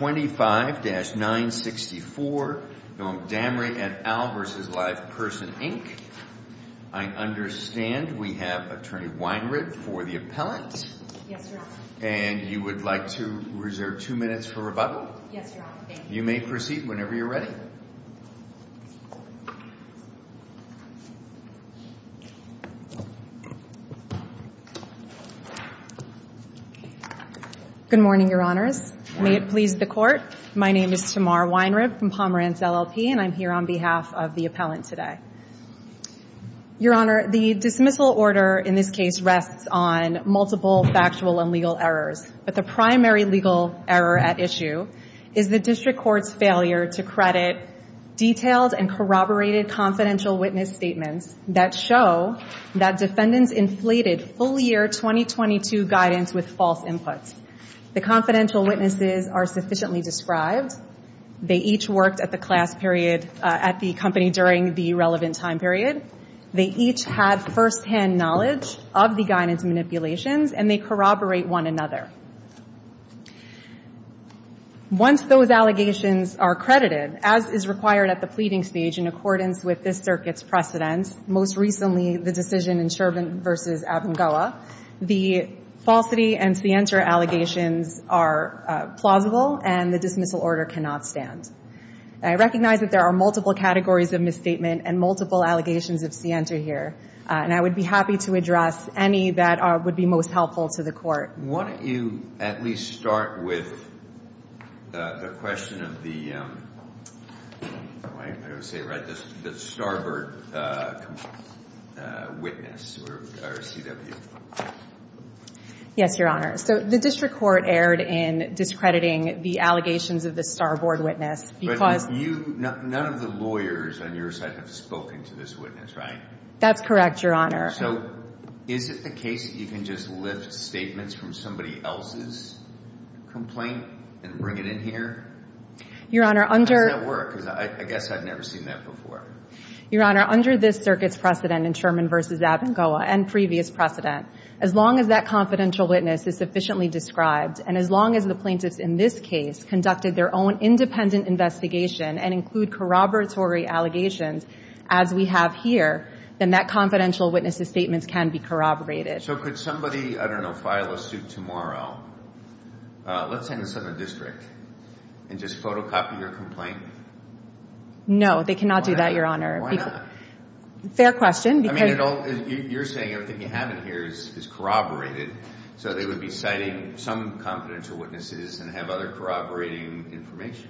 I understand we have Attorney Weinritt for the appellant. And you would like to reserve two minutes for rebuttal? You may proceed whenever you're ready. Good morning, Your Honors. May it please the Court. My name is Tamar Weinritt from Pomeranz, LLP, and I'm here on behalf of the appellant today. Your Honor, the dismissal order in this case rests on multiple factual and legal errors. But the primary legal error at issue is the District Court's failure to credit detailed and corroborated confidential witness statements that show that defendants inflated full year 2022 guidance with false inputs. The confidential witnesses are sufficiently described. They each worked at the company during the relevant time period. They each had firsthand knowledge of the guidance manipulations, and they corroborate one another. Once those allegations are credited, as is required at the pleading stage in accordance with this Circuit's precedent, most recently the decision in Shervin v. Avangoa, the falsity and scienter allegations are plausible, and the dismissal order cannot stand. I recognize that there are multiple categories of misstatement and multiple allegations of scienter here, and I would be happy to address any that would be most helpful to the Court. Your Honor, why don't you at least start with the question of the Starboard witness, or CW? Yes, Your Honor. So the District Court erred in discrediting the allegations of the Starboard witness. But none of the lawyers on your side have spoken to this witness, right? That's correct, Your Honor. So is it the case that you can just lift statements from somebody else's complaint and bring it in here? How does that work? Because I guess I've never seen that before. Your Honor, under this Circuit's precedent in Shervin v. Avangoa, and previous precedent, as long as that confidential witness is sufficiently described, and as long as the plaintiffs in this case conducted their own independent investigation and include corroboratory allegations, as we have here, then that confidential witness's statements can be corroborated. So could somebody, I don't know, file a suit tomorrow, let's say in the Southern District, and just photocopy your complaint? No, they cannot do that, Your Honor. Why not? Fair question. I mean, you're saying everything you have in here is corroborated, so they would be citing some confidential witnesses and have other corroborating information.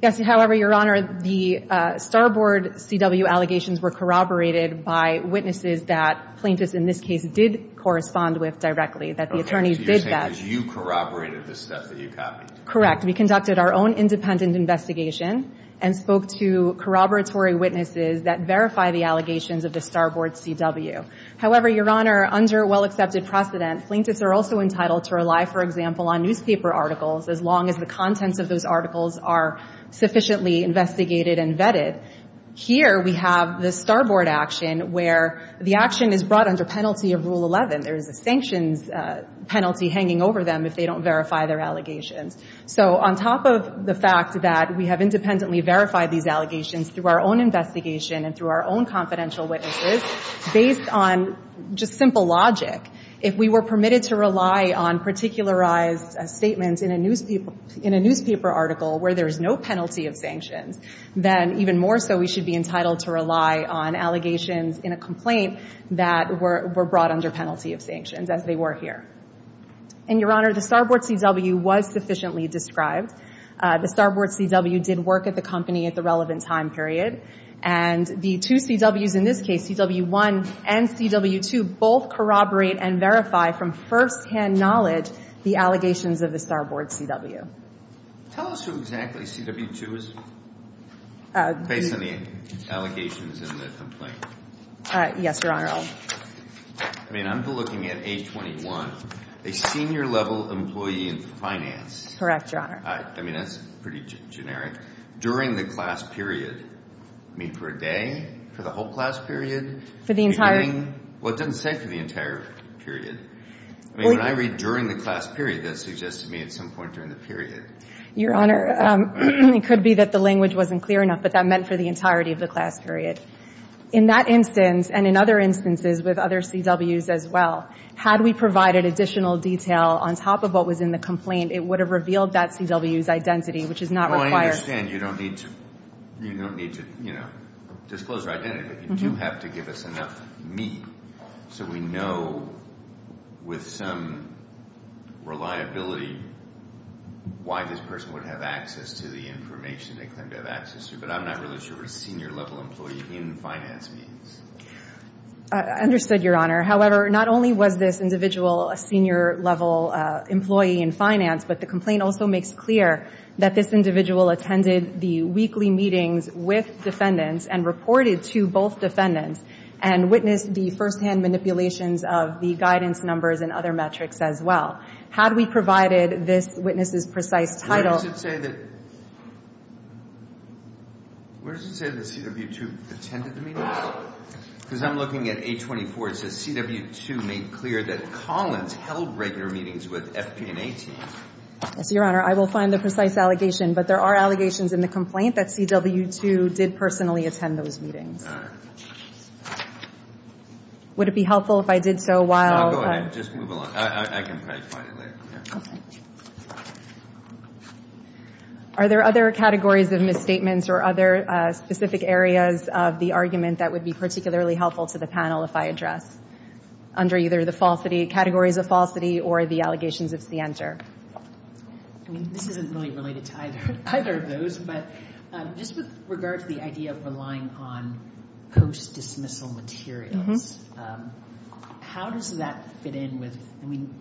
Yes. However, Your Honor, the Starboard CW allegations were corroborated by witnesses that plaintiffs in this case did correspond with directly, that the attorneys did that. Okay. So you're saying that you corroborated the stuff that you copied. Correct. We conducted our own independent investigation and spoke to corroboratory witnesses that verify the allegations of the Starboard CW. However, Your Honor, under well-accepted precedent, plaintiffs are also entitled to rely, for example, on newspaper articles, as long as the contents of those articles are sufficiently investigated and vetted. Here we have the Starboard action where the action is brought under penalty of Rule 11. There is a sanctions penalty hanging over them if they don't verify their allegations. So on top of the fact that we have independently verified these allegations through our own investigation and through our own confidential witnesses, based on just simple logic, if we were permitted to rely on particularized statements in a newspaper article where there is no penalty of sanctions, then even more so we should be entitled to rely on allegations in a complaint that were brought under penalty of sanctions, as they were here. And, Your Honor, the Starboard CW was sufficiently described. The Starboard CW did work at the company at the relevant time period. And the two CWs in this case, CW1 and CW2, both corroborate and verify from firsthand knowledge the allegations of the Starboard CW. Tell us who exactly CW2 is based on the allegations in the complaint. Yes, Your Honor. I mean, I'm looking at age 21, a senior-level employee in finance. Correct, Your Honor. I mean, that's pretty generic. During the class period. I mean, for a day? For the whole class period? For the entire? Well, it doesn't say for the entire period. I mean, when I read during the class period, that suggests to me at some point during the period. Your Honor, it could be that the language wasn't clear enough, but that meant for the entirety of the class period. In that instance, and in other instances with other CWs as well, had we provided additional detail on top of what was in the complaint, it would have revealed that CW's identity, which is not required. I understand you don't need to disclose your identity, but you do have to give us enough meat so we know with some reliability why this person would have access to the information they claim to have access to, but I'm not really sure what a senior-level employee in finance means. I understood, Your Honor. However, not only was this individual a senior-level employee in finance, but the complaint also makes clear that this individual attended the weekly meetings with defendants and reported to both defendants and witnessed the firsthand manipulations of the guidance numbers and other metrics as well. Had we provided this witness's precise title. Where does it say that CW2 attended the meetings? Because I'm looking at A24. A24 says CW2 made clear that Collins held regular meetings with FP&A teams. Yes, Your Honor. I will find the precise allegation, but there are allegations in the complaint that CW2 did personally attend those meetings. All right. Would it be helpful if I did so while the... No, go ahead. Just move along. I can probably find it later. Okay. Are there other categories of misstatements or other specific areas of the argument that would be particularly helpful to the panel if I address, under either the categories of falsity or the allegations of CENTER? I mean, this isn't really related to either of those, but just with regard to the idea of relying on post-dismissal materials, how does that fit in with... I mean,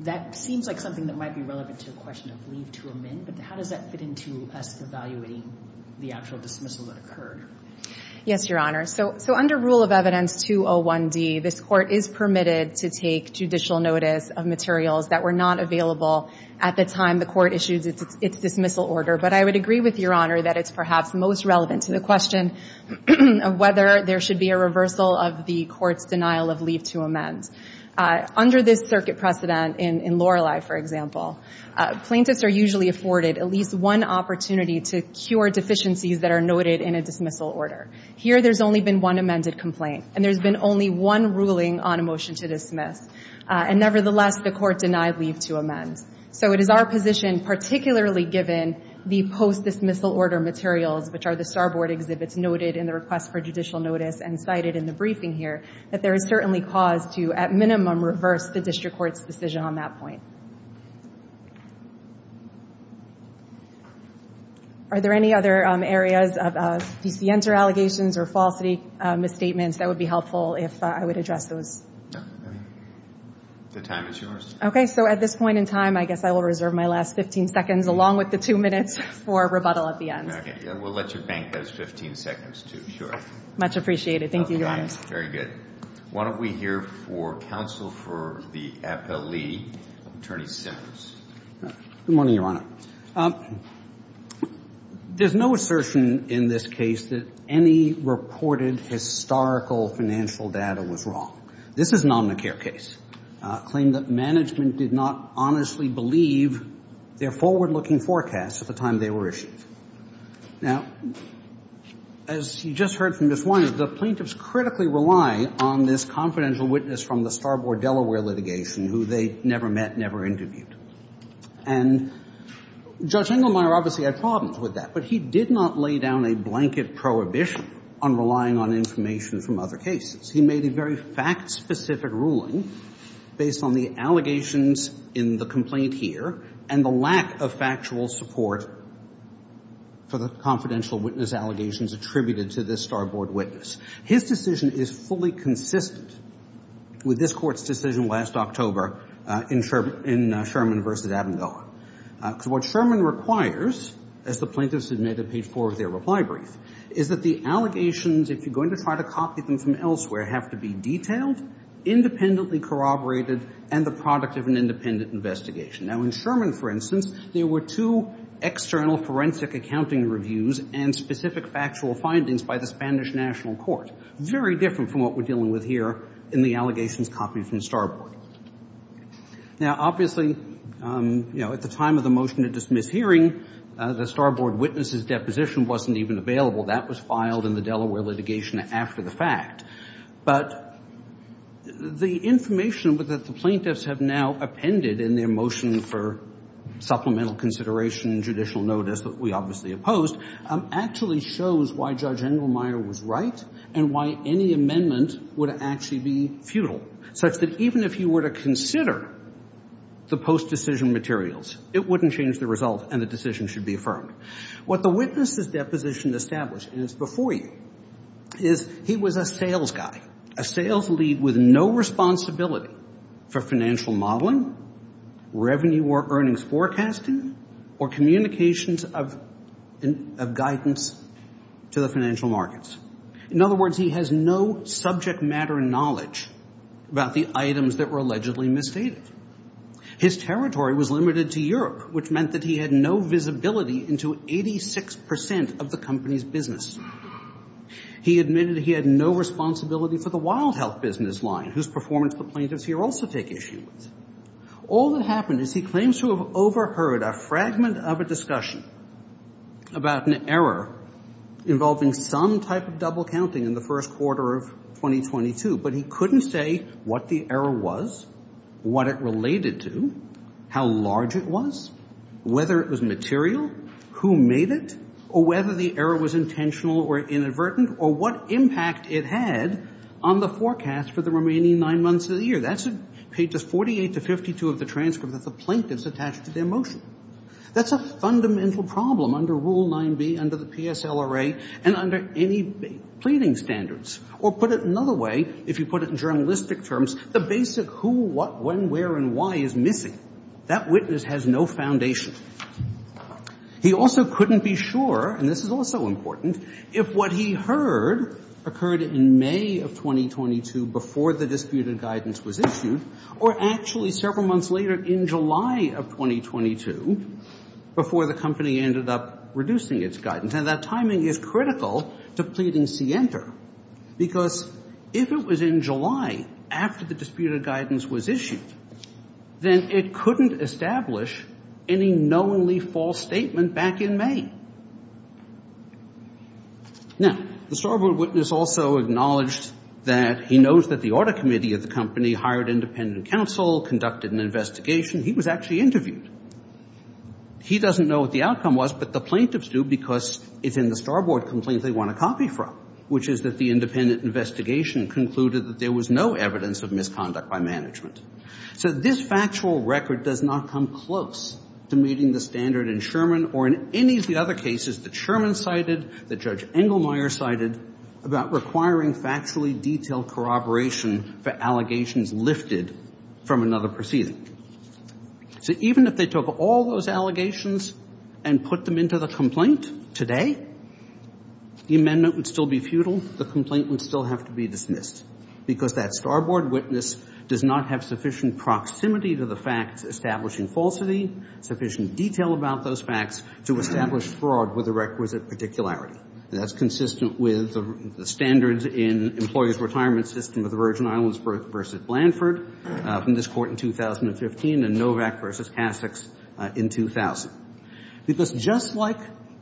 that seems like something that might be relevant to the question of leave to amend, but how does that fit into us evaluating the actual dismissal that occurred? Yes, Your Honor. So under Rule of Evidence 201D, this Court is permitted to take judicial notice of materials that were not available at the time the Court issued its dismissal order. But I would agree with Your Honor that it's perhaps most relevant to the question of whether there should be a reversal of the Court's denial of leave to amend. Under this circuit precedent in Lorelei, for example, plaintiffs are usually afforded at least one opportunity to cure deficiencies that are noted in a dismissal order. Here, there's only been one amended complaint, and there's been only one ruling on a motion to dismiss. And nevertheless, the Court denied leave to amend. So it is our position, particularly given the post-dismissal order materials, which are the starboard exhibits noted in the request for judicial notice and cited in the briefing here, that there is certainly cause to, at minimum, reverse the district court's decision on that point. Are there any other areas of DCNs or allegations or falsity, misstatements that would be helpful if I would address those? No. The time is yours. Okay. So at this point in time, I guess I will reserve my last 15 seconds, along with the two minutes for rebuttal at the end. Okay. And we'll let you bank those 15 seconds, too. Sure. Much appreciated. Thank you, Your Honor. Okay. Very good. Why don't we hear for counsel for the appellee, Attorney Simmons. Good morning, Your Honor. There's no assertion in this case that any reported historical financial data was wrong. This is an Omnicare case, a claim that management did not honestly believe their forward-looking forecast at the time they were issued. Now, as you just heard from Ms. Winers, the plaintiffs critically rely on this confidential witness from the Starboard Delaware litigation who they never met, never interviewed. And Judge Engelmeyer obviously had problems with that, but he did not lay down a blanket prohibition on relying on information from other cases. He made a very fact-specific ruling based on the allegations in the complaint here and the lack of factual support for the confidential witness allegations attributed to this Starboard witness. His decision is fully consistent with this Court's decision last October in Sherman v. Abengoa. Because what Sherman requires, as the plaintiffs admitted at page 4 of their reply brief, is that the allegations, if you're going to try to copy them from elsewhere, have to be detailed, independently corroborated, and the product of an independent investigation. Now, in Sherman, for instance, there were two external forensic accounting reviews and specific factual findings by the Spanish National Court, very different from what we're dealing with here in the allegations copied from Starboard. Now, obviously, you know, at the time of the motion to dismiss hearing, the Starboard witness's deposition wasn't even available. That was filed in the Delaware litigation after the fact. But the information that the plaintiffs have now appended in their motion for supplemental consideration in judicial notice that we obviously opposed actually shows why Judge Engelmeyer was right and why any amendment would actually be futile, such that even if you were to consider the post-decision materials, it wouldn't change the result and the decision should be affirmed. What the witness's deposition established, and it's before you, is he was a sales guy, a sales lead with no responsibility for financial modeling, revenue or earnings forecasting, or communications of guidance to the financial markets. In other words, he has no subject matter knowledge about the items that were allegedly misstated. His territory was limited to Europe, which meant that he had no visibility into 86% of the company's business. He admitted he had no responsibility for the wild health business line, whose performance the plaintiffs here also take issue with. All that happened is he claims to have overheard a fragment of a discussion about an error involving some type of double counting in the first quarter of 2022, but he couldn't say what the error was, what it related to, how large it was, whether it was material, who made it, or whether the error was intentional or inadvertent, or what impact it had on the forecast for the remaining nine months of the year. That's pages 48 to 52 of the transcript that the plaintiffs attached to their motion. That's a fundamental problem under Rule 9b, under the PSLRA, and under any pleading standards. Or put it another way, if you put it in journalistic terms, the basic who, what, when, where, and why is missing. That witness has no foundation. He also couldn't be sure, and this is also important, if what he heard occurred in May of 2022 before the disputed guidance was issued, or actually several months later in July of 2022 before the company ended up reducing its guidance. And that timing is critical to pleading scienter, because if it was in July after the disputed guidance was issued, then it couldn't establish any knowingly false statement back in May. Now, the starboard witness also acknowledged that he knows that the audit committee of the company hired independent counsel, conducted an investigation. He was actually interviewed. He doesn't know what the outcome was, but the plaintiffs do, because it's in the starboard complaint they want a copy from, which is that the independent investigation concluded that there was no evidence of misconduct by management. So this factual record does not come close to meeting the standard in Sherman or in any of the other cases that Sherman cited, that Judge Engelmeyer cited, about requiring factually detailed corroboration for allegations lifted from another proceeding. So even if they took all those allegations and put them into the complaint today, the amendment would still be futile. The complaint would still have to be dismissed, because that starboard witness does not have sufficient proximity to the facts establishing falsity, sufficient detail about those facts to establish fraud with a requisite particularity. And that's consistent with the standards in employees' retirement system of the Virgin Islands versus Blanford, from this court in 2015, and Novak versus Kassex in 2000. Because just like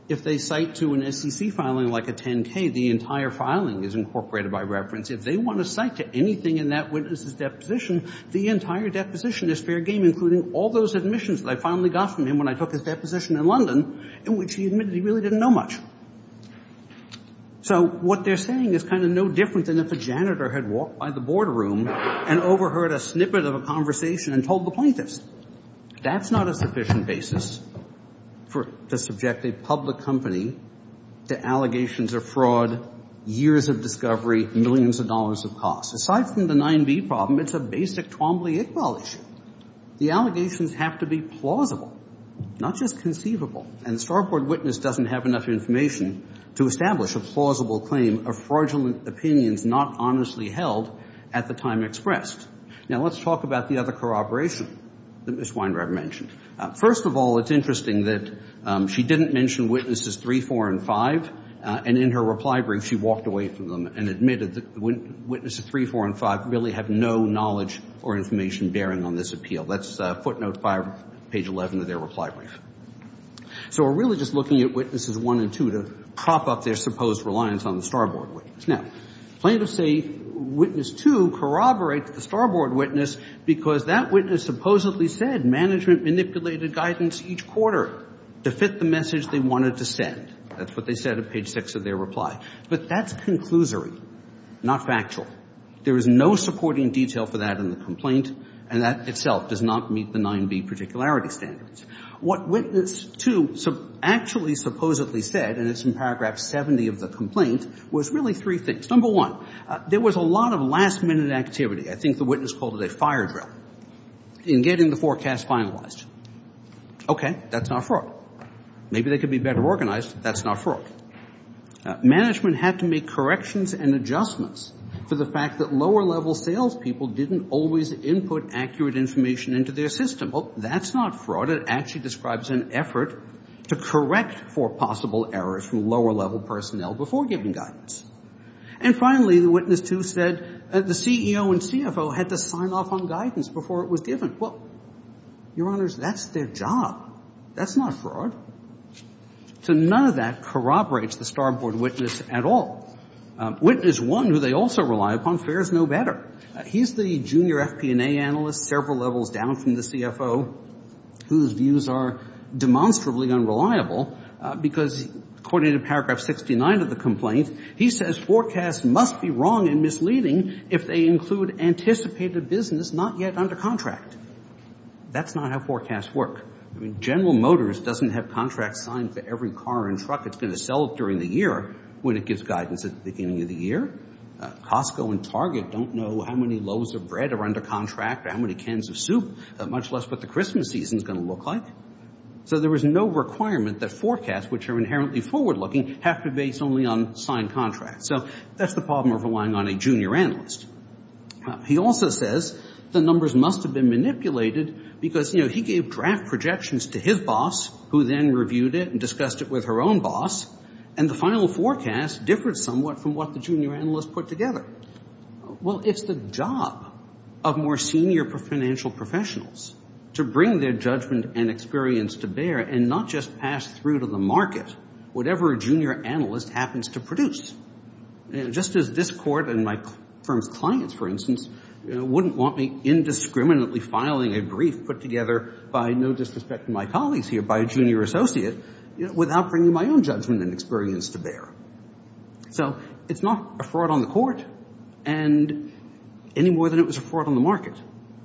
if they cite to an SEC filing like a 10-K, the entire filing is incorporated by reference. If they want to cite to anything in that witness's deposition, the entire deposition is fair game, including all those admissions that I finally got from him when I took his deposition in London, in which he admitted he really didn't know much. So what they're saying is kind of no different than if a janitor had walked by the boardroom and overheard a snippet of a conversation and told the plaintiffs. That's not a sufficient basis to subject a public company to allegations of fraud, years of discovery, millions of dollars of costs. Aside from the 9B problem, it's a basic Twombly-Iqbal issue. The allegations have to be plausible, not just conceivable. And the starboard witness doesn't have enough information to establish a plausible claim of fraudulent opinions not honestly held at the time expressed. Now, let's talk about the other corroboration that Ms. Weinreich mentioned. First of all, it's interesting that she didn't mention witnesses 3, 4, and 5, and in her reply brief she walked away from them and admitted that witnesses 3, 4, and 5 really have no knowledge or information bearing on this appeal. That's footnote 5, page 11 of their reply brief. So we're really just looking at witnesses 1 and 2 to prop up their supposed reliance on the starboard witness. Now, plaintiffs say witness 2 corroborates the starboard witness because that witness supposedly said management manipulated guidance each quarter to fit the message they wanted to send. That's what they said at page 6 of their reply. But that's conclusory, not factual. There is no supporting detail for that in the complaint, and that itself does not meet the 9B particularity standards. What witness 2 actually supposedly said, and it's in paragraph 70 of the complaint, was really three things. Number one, there was a lot of last-minute activity. I think the witness called it a fire drill in getting the forecast finalized. Okay, that's not fraud. Maybe they could be better organized. That's not fraud. Management had to make corrections and adjustments for the fact that lower-level salespeople didn't always input accurate information into their system. Well, that's not fraud. But it actually describes an effort to correct for possible errors from lower-level personnel before giving guidance. And finally, the witness 2 said the CEO and CFO had to sign off on guidance before it was given. Well, Your Honors, that's their job. That's not fraud. So none of that corroborates the starboard witness at all. Witness 1, who they also rely upon, fares no better. He's the junior FP&A analyst several levels down from the CFO, whose views are demonstrably unreliable, because according to paragraph 69 of the complaint, he says forecasts must be wrong and misleading if they include anticipated business not yet under contract. That's not how forecasts work. General Motors doesn't have contracts signed for every car and truck it's going to sell during the year when it gives guidance at the beginning of the year. Costco and Target don't know how many loaves of bread are under contract or how many cans of soup, much less what the Christmas season is going to look like. So there was no requirement that forecasts, which are inherently forward-looking, have to be based only on signed contracts. So that's the problem of relying on a junior analyst. He also says the numbers must have been manipulated because, you know, he gave draft projections to his boss, who then reviewed it and discussed it with her own boss, and the final forecast differed somewhat from what the junior analyst put together. Well, it's the job of more senior financial professionals to bring their judgment and experience to bear and not just pass through to the market whatever a junior analyst happens to produce. Just as this court and my firm's clients, for instance, wouldn't want me indiscriminately filing a brief put together by, no disrespect to my colleagues here, by a junior associate without bringing my own judgment and experience to bear. So it's not a fraud on the court any more than it was a fraud on the market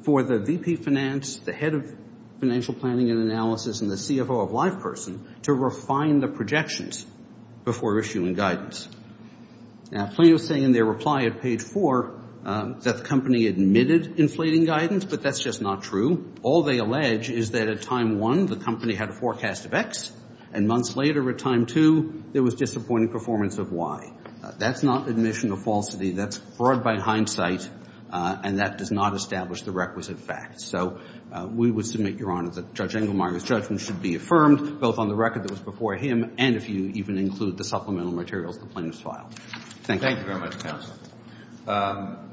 for the VP of Finance, the head of financial planning and analysis, and the CFO of LivePerson to refine the projections before issuing guidance. Now, Plano is saying in their reply at page four that the company admitted inflating guidance, but that's just not true. All they allege is that at time one, the company had a forecast of X, and months later at time two, there was disappointing performance of Y. That's not admission of falsity. That's fraud by hindsight, and that does not establish the requisite facts. So we would submit, Your Honor, that Judge Engelmeyer's judgment should be affirmed, both on the record that was before him and if you even include the supplemental materials in the Plano's file. Thank you. Thank you very much, counsel.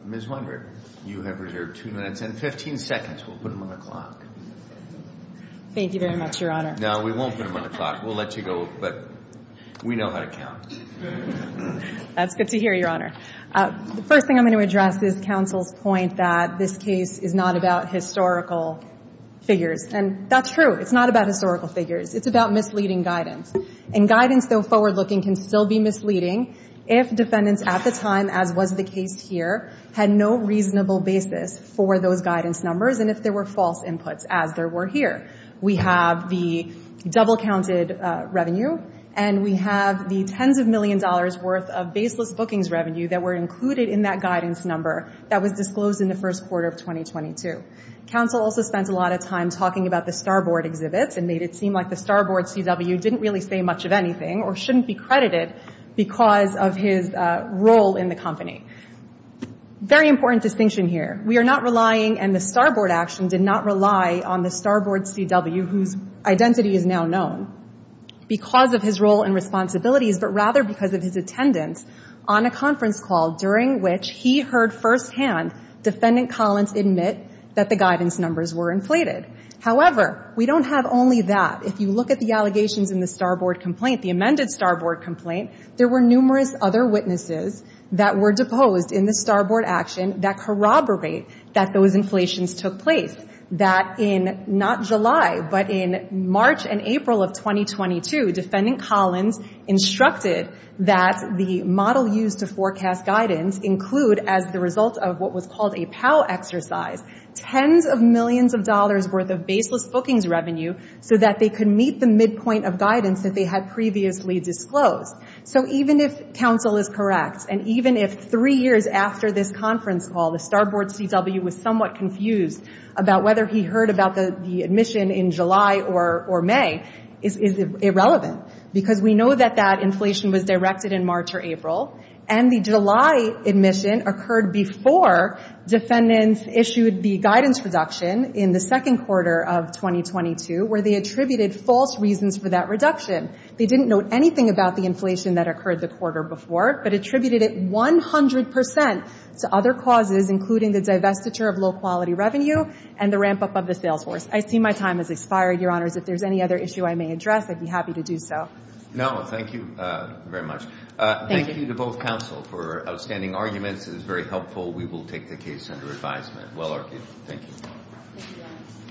Ms. Weinberg, you have reserved two minutes and 15 seconds. We'll put them on the clock. Thank you very much, Your Honor. No, we won't put them on the clock. We'll let you go, but we know how to count. That's good to hear, Your Honor. The first thing I'm going to address is counsel's point that this case is not about historical figures. And that's true. It's not about historical figures. It's about misleading guidance. And guidance, though forward-looking, can still be misleading if defendants at the time, as was the case here, had no reasonable basis for those guidance numbers and if there were false inputs, as there were here. We have the double-counted revenue, and we have the tens of million dollars worth of baseless bookings revenue that were included in that guidance number that was disclosed in the first quarter of 2022. Counsel also spent a lot of time talking about the starboard exhibits and made it seem like the starboard CW didn't really say much of anything or shouldn't be credited because of his role in the company. Very important distinction here. We are not relying, and the starboard action did not rely on the starboard CW, whose identity is now known, because of his role and responsibilities, but rather because of his attendance on a conference call during which he heard firsthand Defendant Collins admit that the guidance numbers were inflated. However, we don't have only that. If you look at the allegations in the starboard complaint, the amended starboard complaint, there were numerous other witnesses that were deposed in the starboard action that corroborate that those inflations took place. That in, not July, but in March and April of 2022, Defendant Collins instructed that the model used to forecast guidance include, as the result of what was called a POW exercise, tens of millions of dollars' worth of baseless bookings revenue so that they could meet the midpoint of guidance that they had previously disclosed. So even if counsel is correct, and even if three years after this conference call the starboard CW was somewhat confused about whether he heard about the admission in July or May, is irrelevant, because we know that that inflation was directed in March or April, and the July admission occurred before defendants issued the guidance reduction in the second quarter of 2022, where they attributed false reasons for that reduction. They didn't note anything about the inflation that occurred the quarter before, but attributed it 100 percent to other causes, including the divestiture of low-quality revenue and the ramp-up of the sales force. I see my time has expired, Your Honors. If there's any other issue I may address, I'd be happy to do so. No, thank you very much. Thank you to both counsel for outstanding arguments. It was very helpful. We will take the case under advisement. Well argued. Thank you.